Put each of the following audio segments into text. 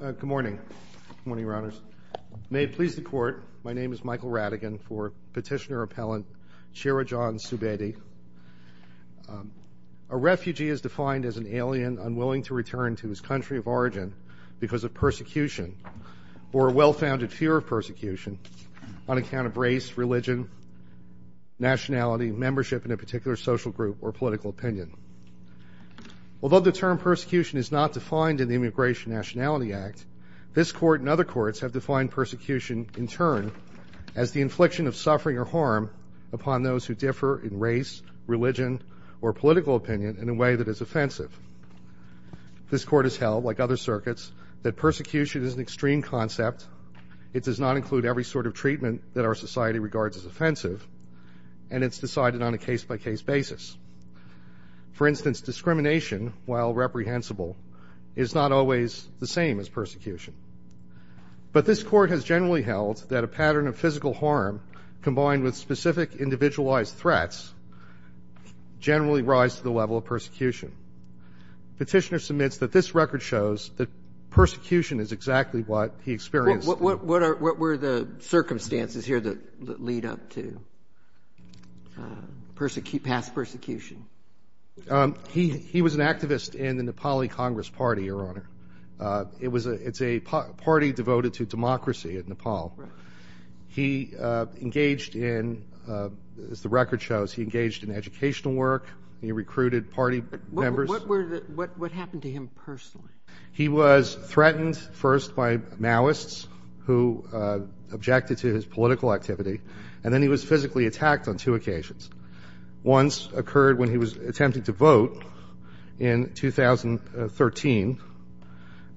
Good morning. Good morning, Your Honors. May it please the Court, my name is Michael Radigan for Petitioner-Appellant Chirajan Subedi. A refugee is defined as an alien unwilling to return to his country of origin because of persecution or a well-founded fear of persecution on account of race, religion, nationality, membership in a particular social group, or political opinion. Although the term persecution is not defined in the Immigration and Nationality Act, this Court and other courts have defined persecution, in turn, as the infliction of suffering or harm upon those who differ in race, religion, or political opinion in a way that is offensive. This Court has held, like other circuits, that persecution is an extreme concept, it does not include every sort of treatment that our society regards as offensive, and it's decided on a case-by-case basis. For instance, discrimination, while reprehensible, is not always the same as persecution. But this Court has generally held that a pattern of physical harm combined with specific individualized threats generally rise to the level of persecution. Petitioner submits that this record shows that persecution is exactly what he experienced. What were the circumstances here that lead up to past persecution? He was an activist in the Nepali Congress Party, Your Honor. It's a party devoted to democracy in Nepal. He engaged in, as the record shows, he engaged in educational work, he recruited party members. What happened to him personally? He was threatened first by Maoists who objected to his political activity, and then he was physically attacked on two occasions. Once occurred when he was attempting to vote in 2013,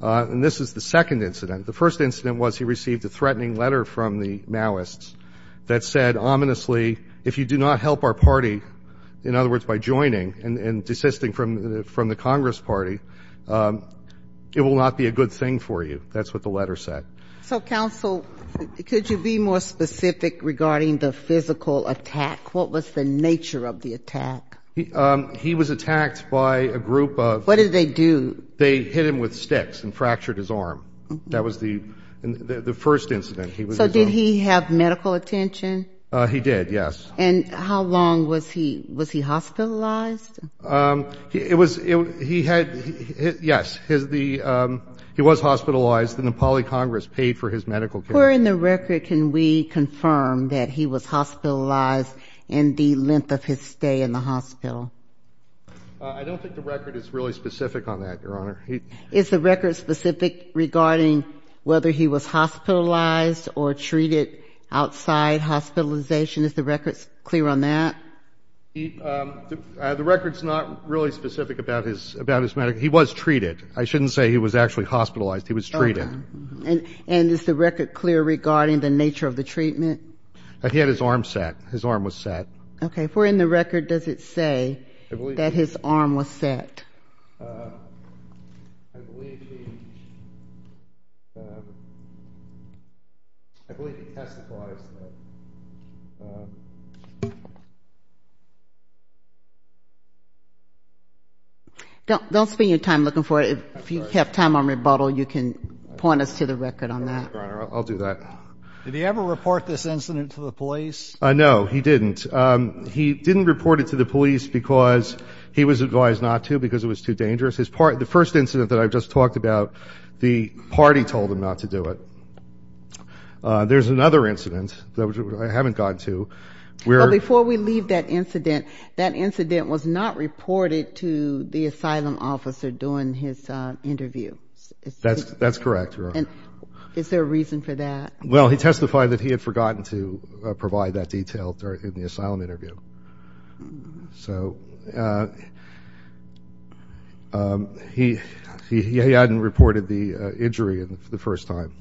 and this is the second incident. The first incident was he received a threatening letter from the Maoists that said ominously, if you do not help our party, in other words, by joining and desisting from the Congress Party, it will not be a good thing for you. That's what the letter said. So, counsel, could you be more specific regarding the physical attack? What was the nature of the attack? He was attacked by a group of... What did they do? They hit him with sticks and fractured his arm. That was the first incident. So did he have medical attention? He did, yes. And how long was he hospitalized? He had, yes, he was hospitalized, and the Nepali Congress paid for his medical care. Where in the record can we confirm that he was hospitalized in the length of his stay in the hospital? I don't think the record is really specific on that, Your Honor. Is the record specific regarding whether he was hospitalized or treated outside hospitalization? Is the record clear on that? The record's not really specific about his medical care. He was treated. I shouldn't say he was actually hospitalized. He was treated. And is the record clear regarding the nature of the treatment? He had his arm set. His arm was set. Okay. Where in the record does it say that his arm was set? I believe he testified. Don't spend your time looking for it. If you have time on rebuttal, you can point us to the record on that. I'll do that. Did he ever report this incident to the police? No, he didn't. He didn't report it to the police because he was advised not to because it was too dangerous. The first incident that I just talked about, the party told him not to do it. There's another incident that I haven't gotten to. Before we leave that incident, that incident was not reported to the asylum officer during his interview. That's correct, Your Honor. Is there a reason for that? Well, he testified that he had forgotten to provide that detail during the asylum interview. So he hadn't reported the injury the first time.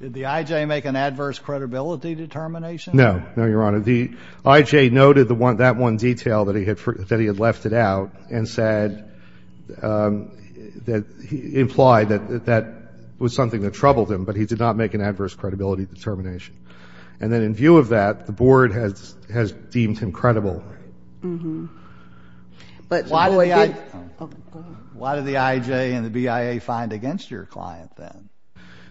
Did the IJ make an adverse credibility determination? No. No, Your Honor. The IJ noted that one detail that he had left it out and said that he implied that that was something that troubled him, but he did not make an adverse credibility determination. And then in view of that, the Board has deemed him credible. Why did the IJ and the BIA find against your client then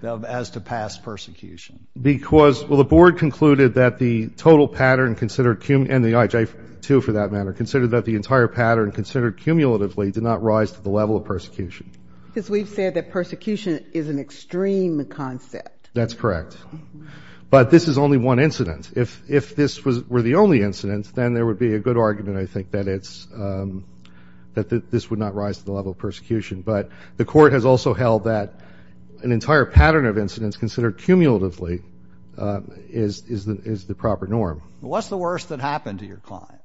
as to past persecution? Because, well, the Board concluded that the total pattern considered and the IJ, too, for that matter, considered that the entire pattern considered cumulatively did not rise to the level of persecution. Because we've said that persecution is an extreme concept. That's correct. But this is only one incident. If this were the only incident, then there would be a good argument, I think, that this would not rise to the level of persecution. But the Court has also held that an entire pattern of incidents considered cumulatively is the proper norm. What's the worst that happened to your client?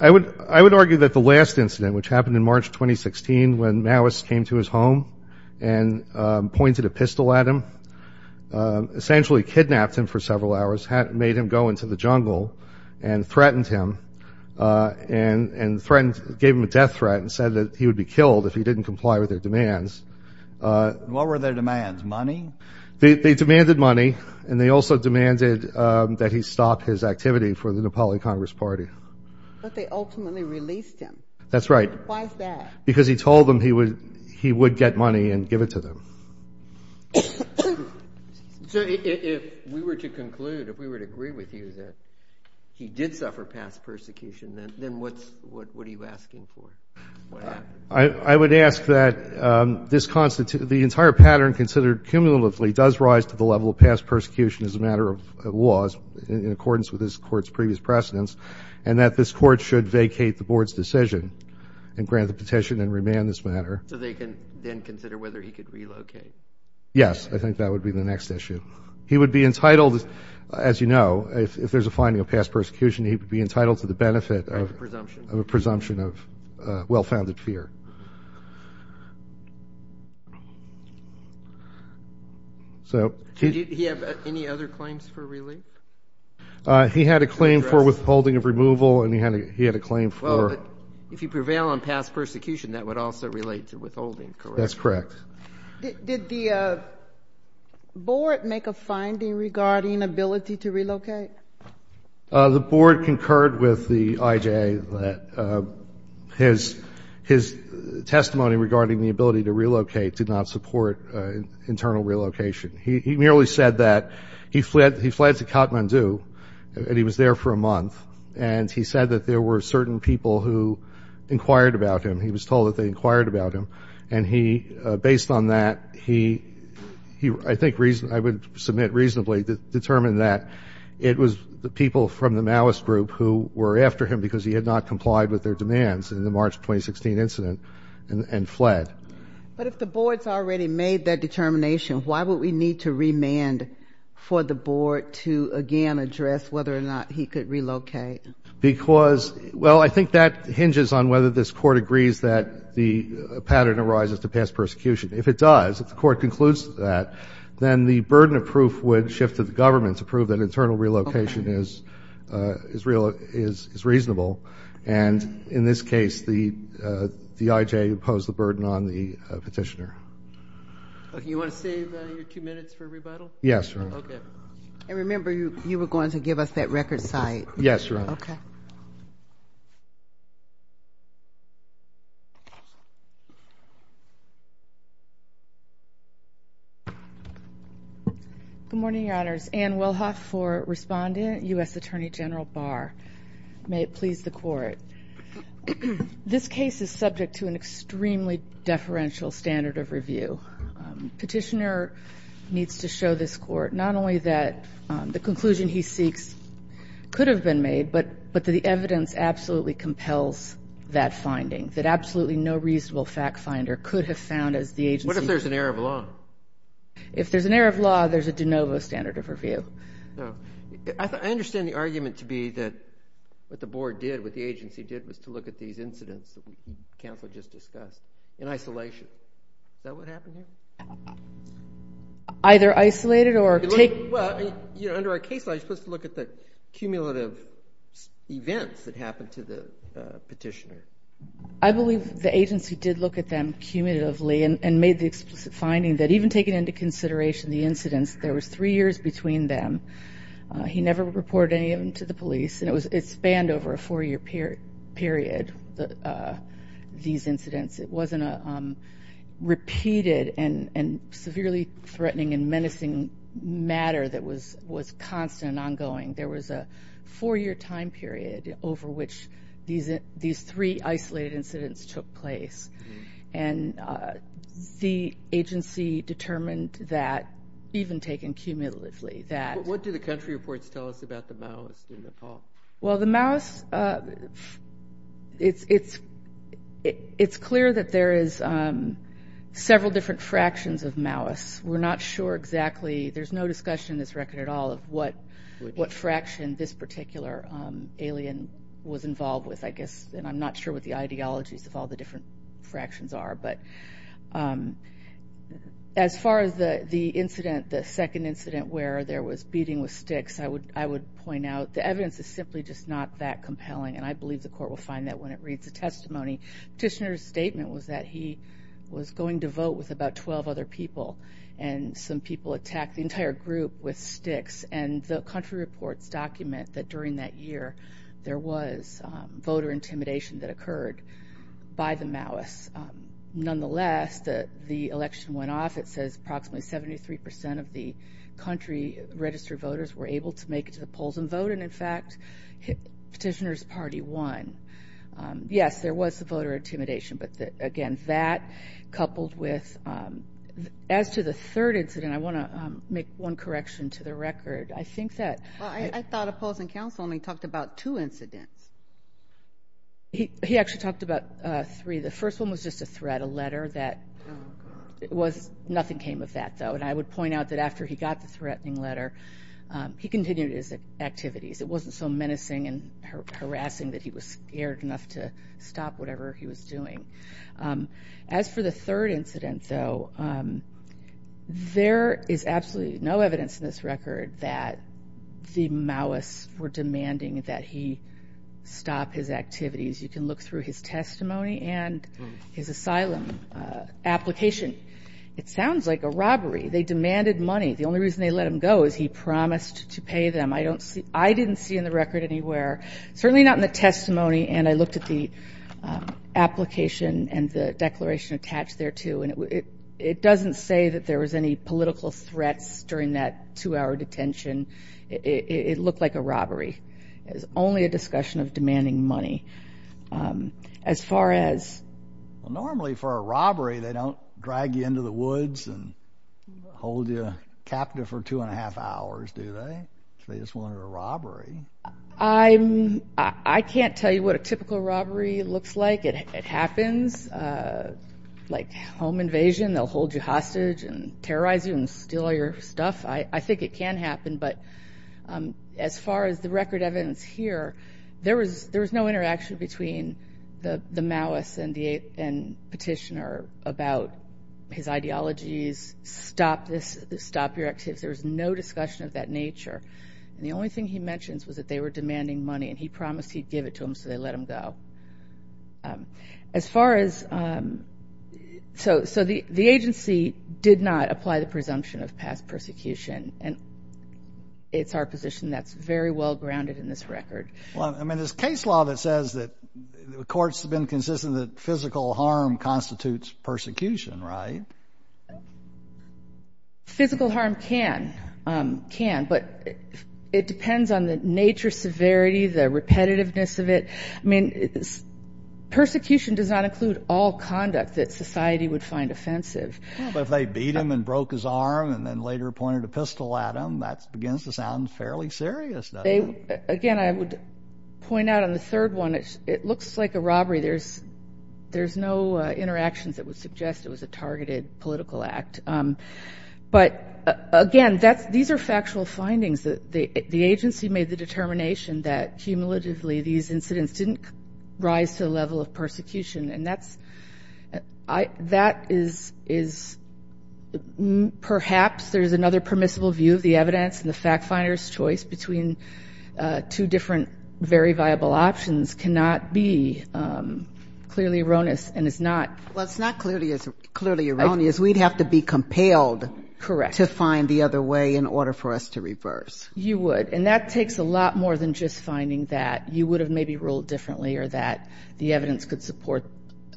I would argue that the last incident, which happened in March 2016, when Maoist came to his home and pointed a pistol at him, essentially kidnapped him for several hours, made him go into the jungle and threatened him and gave him a death threat and said that he would be killed if he didn't comply with their demands. What were their demands? Money? They demanded money, and they also demanded that he stop his activity for the Nepali Congress Party. But they ultimately released him. That's right. Why is that? Because he told them he would get money and give it to them. So if we were to conclude, if we were to agree with you that he did suffer past persecution, then what are you asking for? I would ask that the entire pattern considered cumulatively does rise to the level of past persecution as a matter of law in accordance with this Court's previous precedents and that this Court should vacate the Board's decision and grant the petition and remand this matter. So they can then consider whether he could relocate? Yes. I think that would be the next issue. He would be entitled, as you know, if there's a finding of past persecution, he would be entitled to the benefit of a presumption of well-founded fear. Did he have any other claims for relief? He had a claim for withholding of removal, and he had a claim for ---- Well, if you prevail on past persecution, that would also relate to withholding, correct? That's correct. Did the Board make a finding regarding ability to relocate? The Board concurred with the IJA that his testimony regarding the ability to relocate did not support internal relocation. He merely said that he fled to Kathmandu, and he was there for a month, and he said that there were certain people who inquired about him. He was told that they inquired about him, and he, based on that, he, I think, I would submit reasonably determined that it was the people from the Maoist group who were after him because he had not complied with their demands in the March 2016 incident and fled. But if the Board's already made that determination, why would we need to remand for the Board to again address whether or not he could relocate? Because, well, I think that hinges on whether this Court agrees that the pattern arises to past persecution. If it does, if the Court concludes that, then the burden of proof would shift to the government to prove that internal relocation is reasonable. And in this case, the IJA imposed the burden on the petitioner. Okay. You want to save your two minutes for rebuttal? Yes, Your Honor. Okay. I remember you were going to give us that record site. Yes, Your Honor. Okay. Thank you. Good morning, Your Honors. Ann Wilhoff for Respondent, U.S. Attorney General Barr. May it please the Court. This case is subject to an extremely deferential standard of review. Petitioner needs to show this Court not only that the conclusion he seeks could have been made, but that the evidence absolutely compels that finding, that absolutely no reasonable fact finder could have found as the agency. What if there's an error of law? If there's an error of law, there's a de novo standard of review. I understand the argument to be that what the Board did, what the agency did, was to look at these incidents that the counsel just discussed in isolation. Is that what happened here? Either isolated or taken. Under our case law, you're supposed to look at the cumulative events that happened to the petitioner. I believe the agency did look at them cumulatively and made the explicit finding that even taking into consideration the incidents, there was three years between them. He never reported any of them to the police. It spanned over a four-year period, these incidents. It wasn't a repeated and severely threatening and menacing matter that was constant and ongoing. There was a four-year time period over which these three isolated incidents took place. And the agency determined that, even taken cumulatively, that... What do the country reports tell us about the Maoists in Nepal? Well, the Maoists, it's clear that there is several different fractions of Maoists. We're not sure exactly. There's no discussion in this record at all of what fraction this particular alien was involved with, I guess. And I'm not sure what the ideologies of all the different fractions are. But as far as the incident, the second incident where there was beating with sticks, I would point out the evidence is simply just not that compelling, and I believe the court will find that when it reads the testimony. The petitioner's statement was that he was going to vote with about 12 other people, and some people attacked the entire group with sticks. And the country reports document that, during that year, there was voter intimidation that occurred by the Maoists. Nonetheless, the election went off. It says approximately 73% of the country registered voters were able to make it to the polls and vote, and, in fact, petitioner's party won. Yes, there was the voter intimidation, but, again, that coupled with... As to the third incident, I want to make one correction to the record. I think that... Well, I thought opposing counsel only talked about two incidents. He actually talked about three. The first one was just a threat, a letter that was... Nothing came of that, though, and I would point out that after he got the threatening letter, he continued his activities. It wasn't so menacing and harassing that he was scared enough to stop whatever he was doing. As for the third incident, though, there is absolutely no evidence in this record that the Maoists were demanding that he stop his activities. You can look through his testimony and his asylum application. It sounds like a robbery. They demanded money. The only reason they let him go is he promised to pay them. I didn't see in the record anywhere, certainly not in the testimony, and I looked at the application and the declaration attached there, too, and it doesn't say that there was any political threats during that two-hour detention. It looked like a robbery. It was only a discussion of demanding money. As far as... Well, normally for a robbery, they don't drag you into the woods and hold you captive for two and a half hours, do they? They just wanted a robbery. I can't tell you what a typical robbery looks like. It happens, like home invasion. They'll hold you hostage and terrorize you and steal all your stuff. I think it can happen, but as far as the record evidence here, there was no interaction between the Maoists and Petitioner about his ideologies, stop this, stop your activities. There was no discussion of that nature. And the only thing he mentions was that they were demanding money, and he promised he'd give it to them, so they let him go. As far as... So the agency did not apply the presumption of past persecution, and it's our position that's very well grounded in this record. Well, I mean, there's case law that says that the courts have been consistent that physical harm constitutes persecution, right? Physical harm can, but it depends on the nature, severity, the repetitiveness of it. I mean, persecution does not include all conduct that society would find offensive. But if they beat him and broke his arm and then later pointed a pistol at him, that begins to sound fairly serious, doesn't it? Again, I would point out on the third one, it looks like a robbery. There's no interactions that would suggest it was a targeted political act. But, again, these are factual findings. The agency made the determination that, cumulatively, these incidents didn't rise to the level of persecution. And that is perhaps there's another permissible view of the evidence, and the fact finder's choice between two different very viable options cannot be clearly erroneous and is not... Well, it's not clearly erroneous. Because we'd have to be compelled to find the other way in order for us to reverse. You would. And that takes a lot more than just finding that you would have maybe ruled differently or that the evidence could support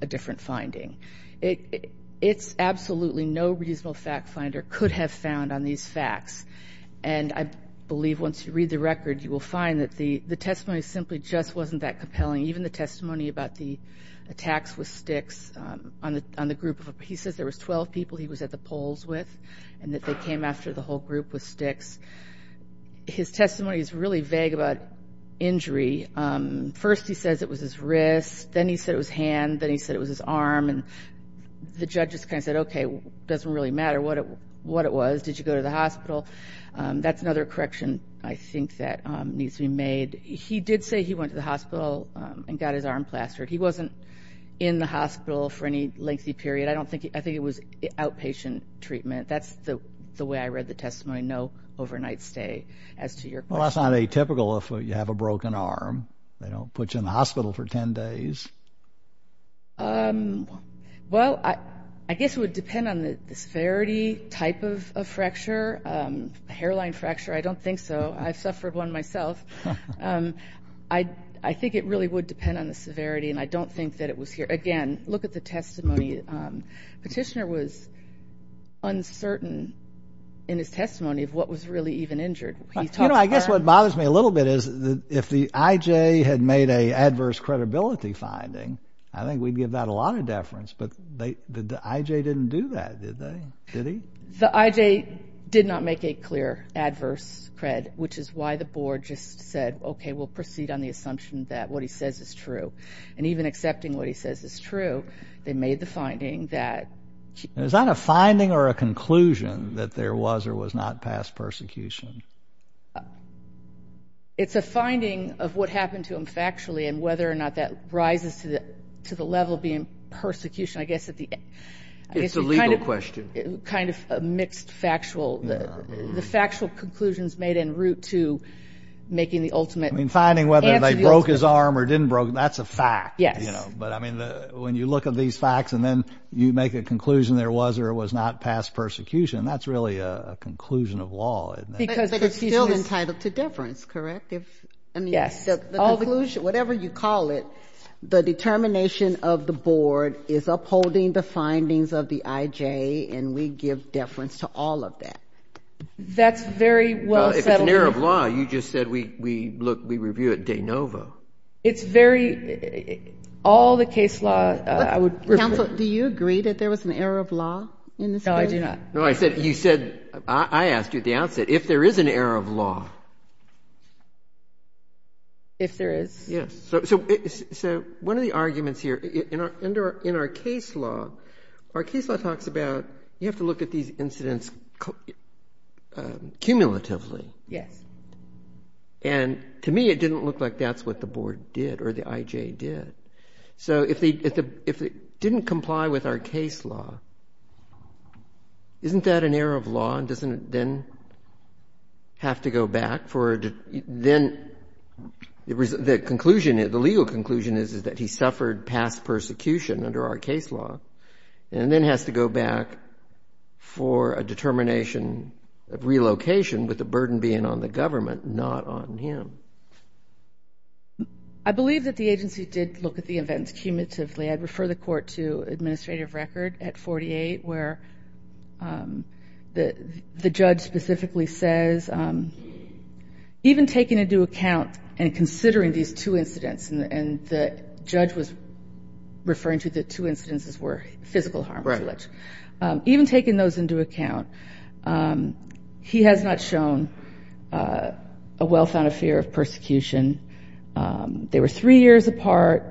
a different finding. It's absolutely no reasonable fact finder could have found on these facts. And I believe once you read the record, you will find that the testimony simply just wasn't that compelling. Even the testimony about the attacks with sticks on the group. He says there was 12 people he was at the polls with and that they came after the whole group with sticks. His testimony is really vague about injury. First he says it was his wrist. Then he said it was hand. Then he said it was his arm. And the judge just kind of said, okay, it doesn't really matter what it was. Did you go to the hospital? That's another correction, I think, that needs to be made. He did say he went to the hospital and got his arm plastered. He wasn't in the hospital for any lengthy period. I think it was outpatient treatment. That's the way I read the testimony, no overnight stay. Well, that's not atypical if you have a broken arm. They don't put you in the hospital for 10 days. Well, I guess it would depend on the disparity type of fracture, hairline fracture. I don't think so. I've suffered one myself. I think it really would depend on the severity, and I don't think that it was here. Again, look at the testimony. Petitioner was uncertain in his testimony of what was really even injured. You know, I guess what bothers me a little bit is if the IJ had made an adverse credibility finding, I think we'd give that a lot of deference. But the IJ didn't do that, did they? Did he? The IJ did not make a clear adverse cred, which is why the board just said, okay, we'll proceed on the assumption that what he says is true. And even accepting what he says is true, they made the finding that he was. Is that a finding or a conclusion that there was or was not past persecution? It's a finding of what happened to him factually and whether or not that rises to the level of being persecution. I guess at the end. It's a legal question. Kind of a mixed factual. The factual conclusion is made in route to making the ultimate answer. I mean, finding whether they broke his arm or didn't broke it, that's a fact. Yes. But, I mean, when you look at these facts and then you make a conclusion there was or was not past persecution, that's really a conclusion of law. But it's still entitled to deference, correct? Yes. The conclusion, whatever you call it, the determination of the board is upholding the findings of the IJ and we give deference to all of that. That's very well settled. Well, if it's an error of law, you just said we review it de novo. It's very, all the case law. Counsel, do you agree that there was an error of law in this case? No, I do not. No, you said, I asked you at the outset, if there is an error of law. If there is. Yes. So one of the arguments here, in our case law, our case law talks about you have to look at these incidents cumulatively. Yes. And to me it didn't look like that's what the board did or the IJ did. So if it didn't comply with our case law, isn't that an error of law and doesn't it then have to go back for a, then the conclusion, the legal conclusion is that he suffered past persecution under our case law and then has to go back for a determination of relocation with the burden being on the government, not on him. I believe that the agency did look at the events cumulatively. I'd refer the court to administrative record at 48 where the judge specifically says, even taking into account and considering these two incidents, and the judge was referring to the two incidences were physical harm. Right. Even taking those into account, he has not shown a well-founded fear of persecution. They were three years apart.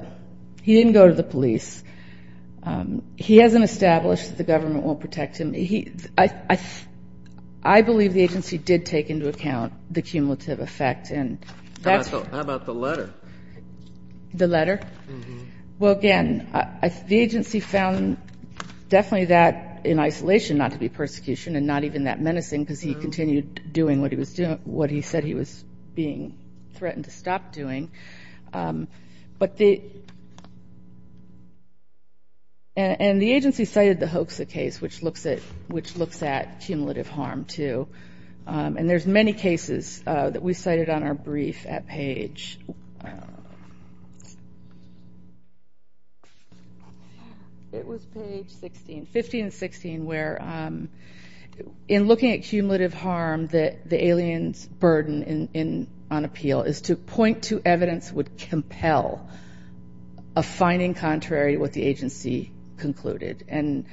He didn't go to the police. He hasn't established that the government won't protect him. I believe the agency did take into account the cumulative effect. How about the letter? The letter? Well, again, the agency found definitely that in isolation not to be persecution and not even that menacing because he continued doing what he was doing, what he said he was being threatened to stop doing. And the agency cited the Hoekse case, which looks at cumulative harm too. And there's many cases that we cited on our brief at page 15 and 16 where in looking at cumulative harm, the alien's burden on appeal is to point to evidence would compel a finding contrary what the agency concluded. And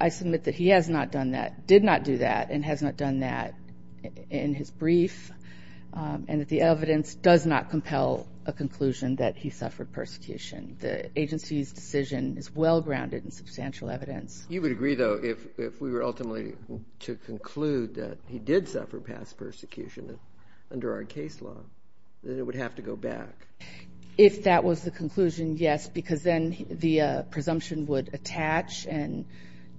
I submit that he has not done that, did not do that, and has not done that in his brief, and that the evidence does not compel a conclusion that he suffered persecution. The agency's decision is well-grounded in substantial evidence. You would agree, though, if we were ultimately to conclude that he did suffer past persecution under our case law, that it would have to go back. If that was the conclusion, yes, because then the presumption would attach and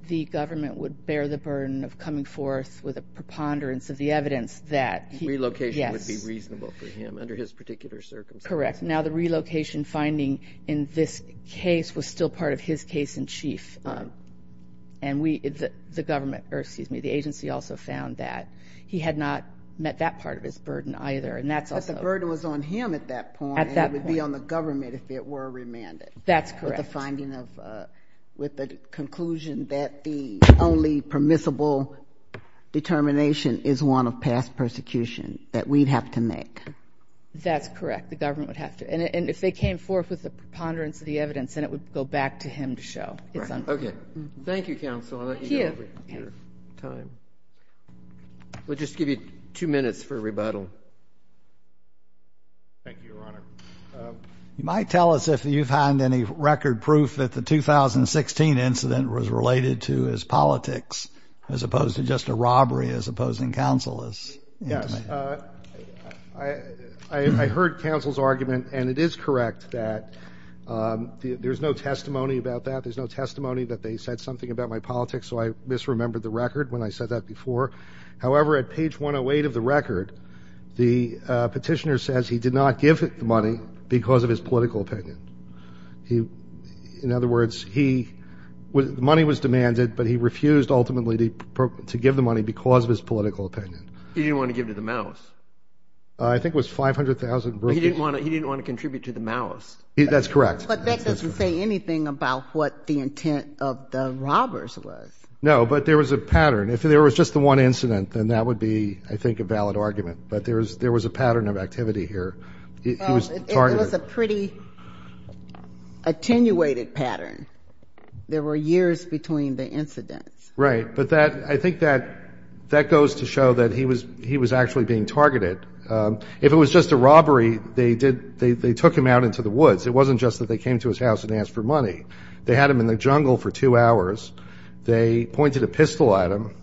the government would bear the burden of coming forth with a preponderance of the evidence that he, yes. Relocation would be reasonable for him under his particular circumstances. Correct. Now, the relocation finding in this case was still part of his case in chief. And we, the government, or excuse me, the agency also found that he had not met that part of his burden either, and that's also. But the burden was on him at that point. At that point. And it would be on the government if it were remanded. That's correct. With the finding of, with the conclusion that the only permissible determination is one of past persecution that we'd have to make. That's correct. The government would have to. And if they came forth with a preponderance of the evidence, then it would go back to him to show. Okay. Thank you, counsel. I'll let you go over your time. We'll just give you two minutes for rebuttal. Thank you, Your Honor. You might tell us if you find any record proof that the 2016 incident was related to his politics as opposed to just a robbery as opposing counsel is. Yes. I heard counsel's argument, and it is correct that there's no testimony about that. There's no testimony that they said something about my politics, so I misremembered the record when I said that before. However, at page 108 of the record, the petitioner says he did not give the money because of his political opinion. In other words, he, money was demanded, but he refused ultimately to give the money because of his political opinion. He didn't want to give to the Maoists. I think it was $500,000. He didn't want to contribute to the Maoists. That's correct. But that doesn't say anything about what the intent of the robbers was. No, but there was a pattern. If there was just the one incident, then that would be, I think, a valid argument. But there was a pattern of activity here. It was a pretty attenuated pattern. There were years between the incidents. Right. But I think that goes to show that he was actually being targeted. If it was just a robbery, they took him out into the woods. It wasn't just that they came to his house and asked for money. They had him in the jungle for two hours. They pointed a pistol at him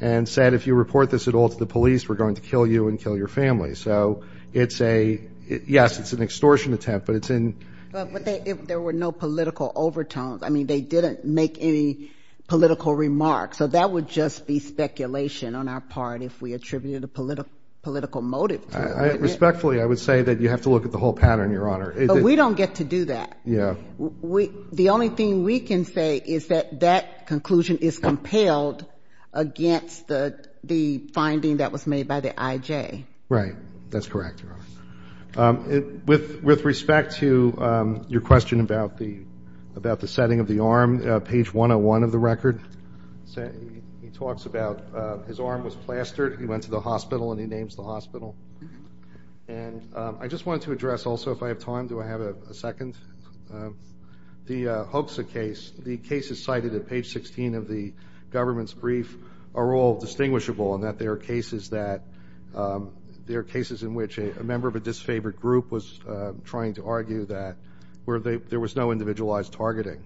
and said, if you report this at all to the police, we're going to kill you and kill your family. So it's a, yes, it's an extortion attempt, but it's in. But there were no political overtones. I mean, they didn't make any political remarks. So that would just be speculation on our part if we attributed a political motive to it. Respectfully, I would say that you have to look at the whole pattern, Your Honor. But we don't get to do that. Yeah. The only thing we can say is that that conclusion is compelled against the finding that was made by the IJ. Right. That's correct, Your Honor. With respect to your question about the setting of the arm, page 101 of the record, he talks about his arm was plastered. He went to the hospital, and he names the hospital. And I just wanted to address also, if I have time, do I have a second? The Hoekse case, the cases cited at page 16 of the government's brief are all distinguishable in that there are cases in which a member of a disfavored group was trying to argue that there was no individualized targeting.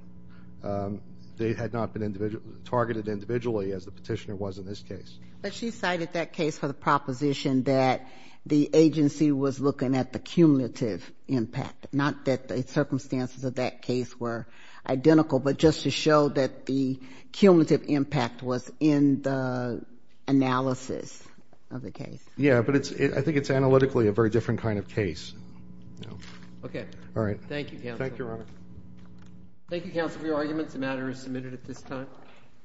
They had not been targeted individually, as the petitioner was in this case. But she cited that case for the proposition that the agency was looking at the cumulative impact, not that the circumstances of that case were identical, but just to show that the cumulative impact was in the analysis of the case. Yeah, but I think it's analytically a very different kind of case. Okay. All right. Thank you, counsel. Thank you, Your Honor. Thank you, counsel, for your arguments. The matter is submitted at this time.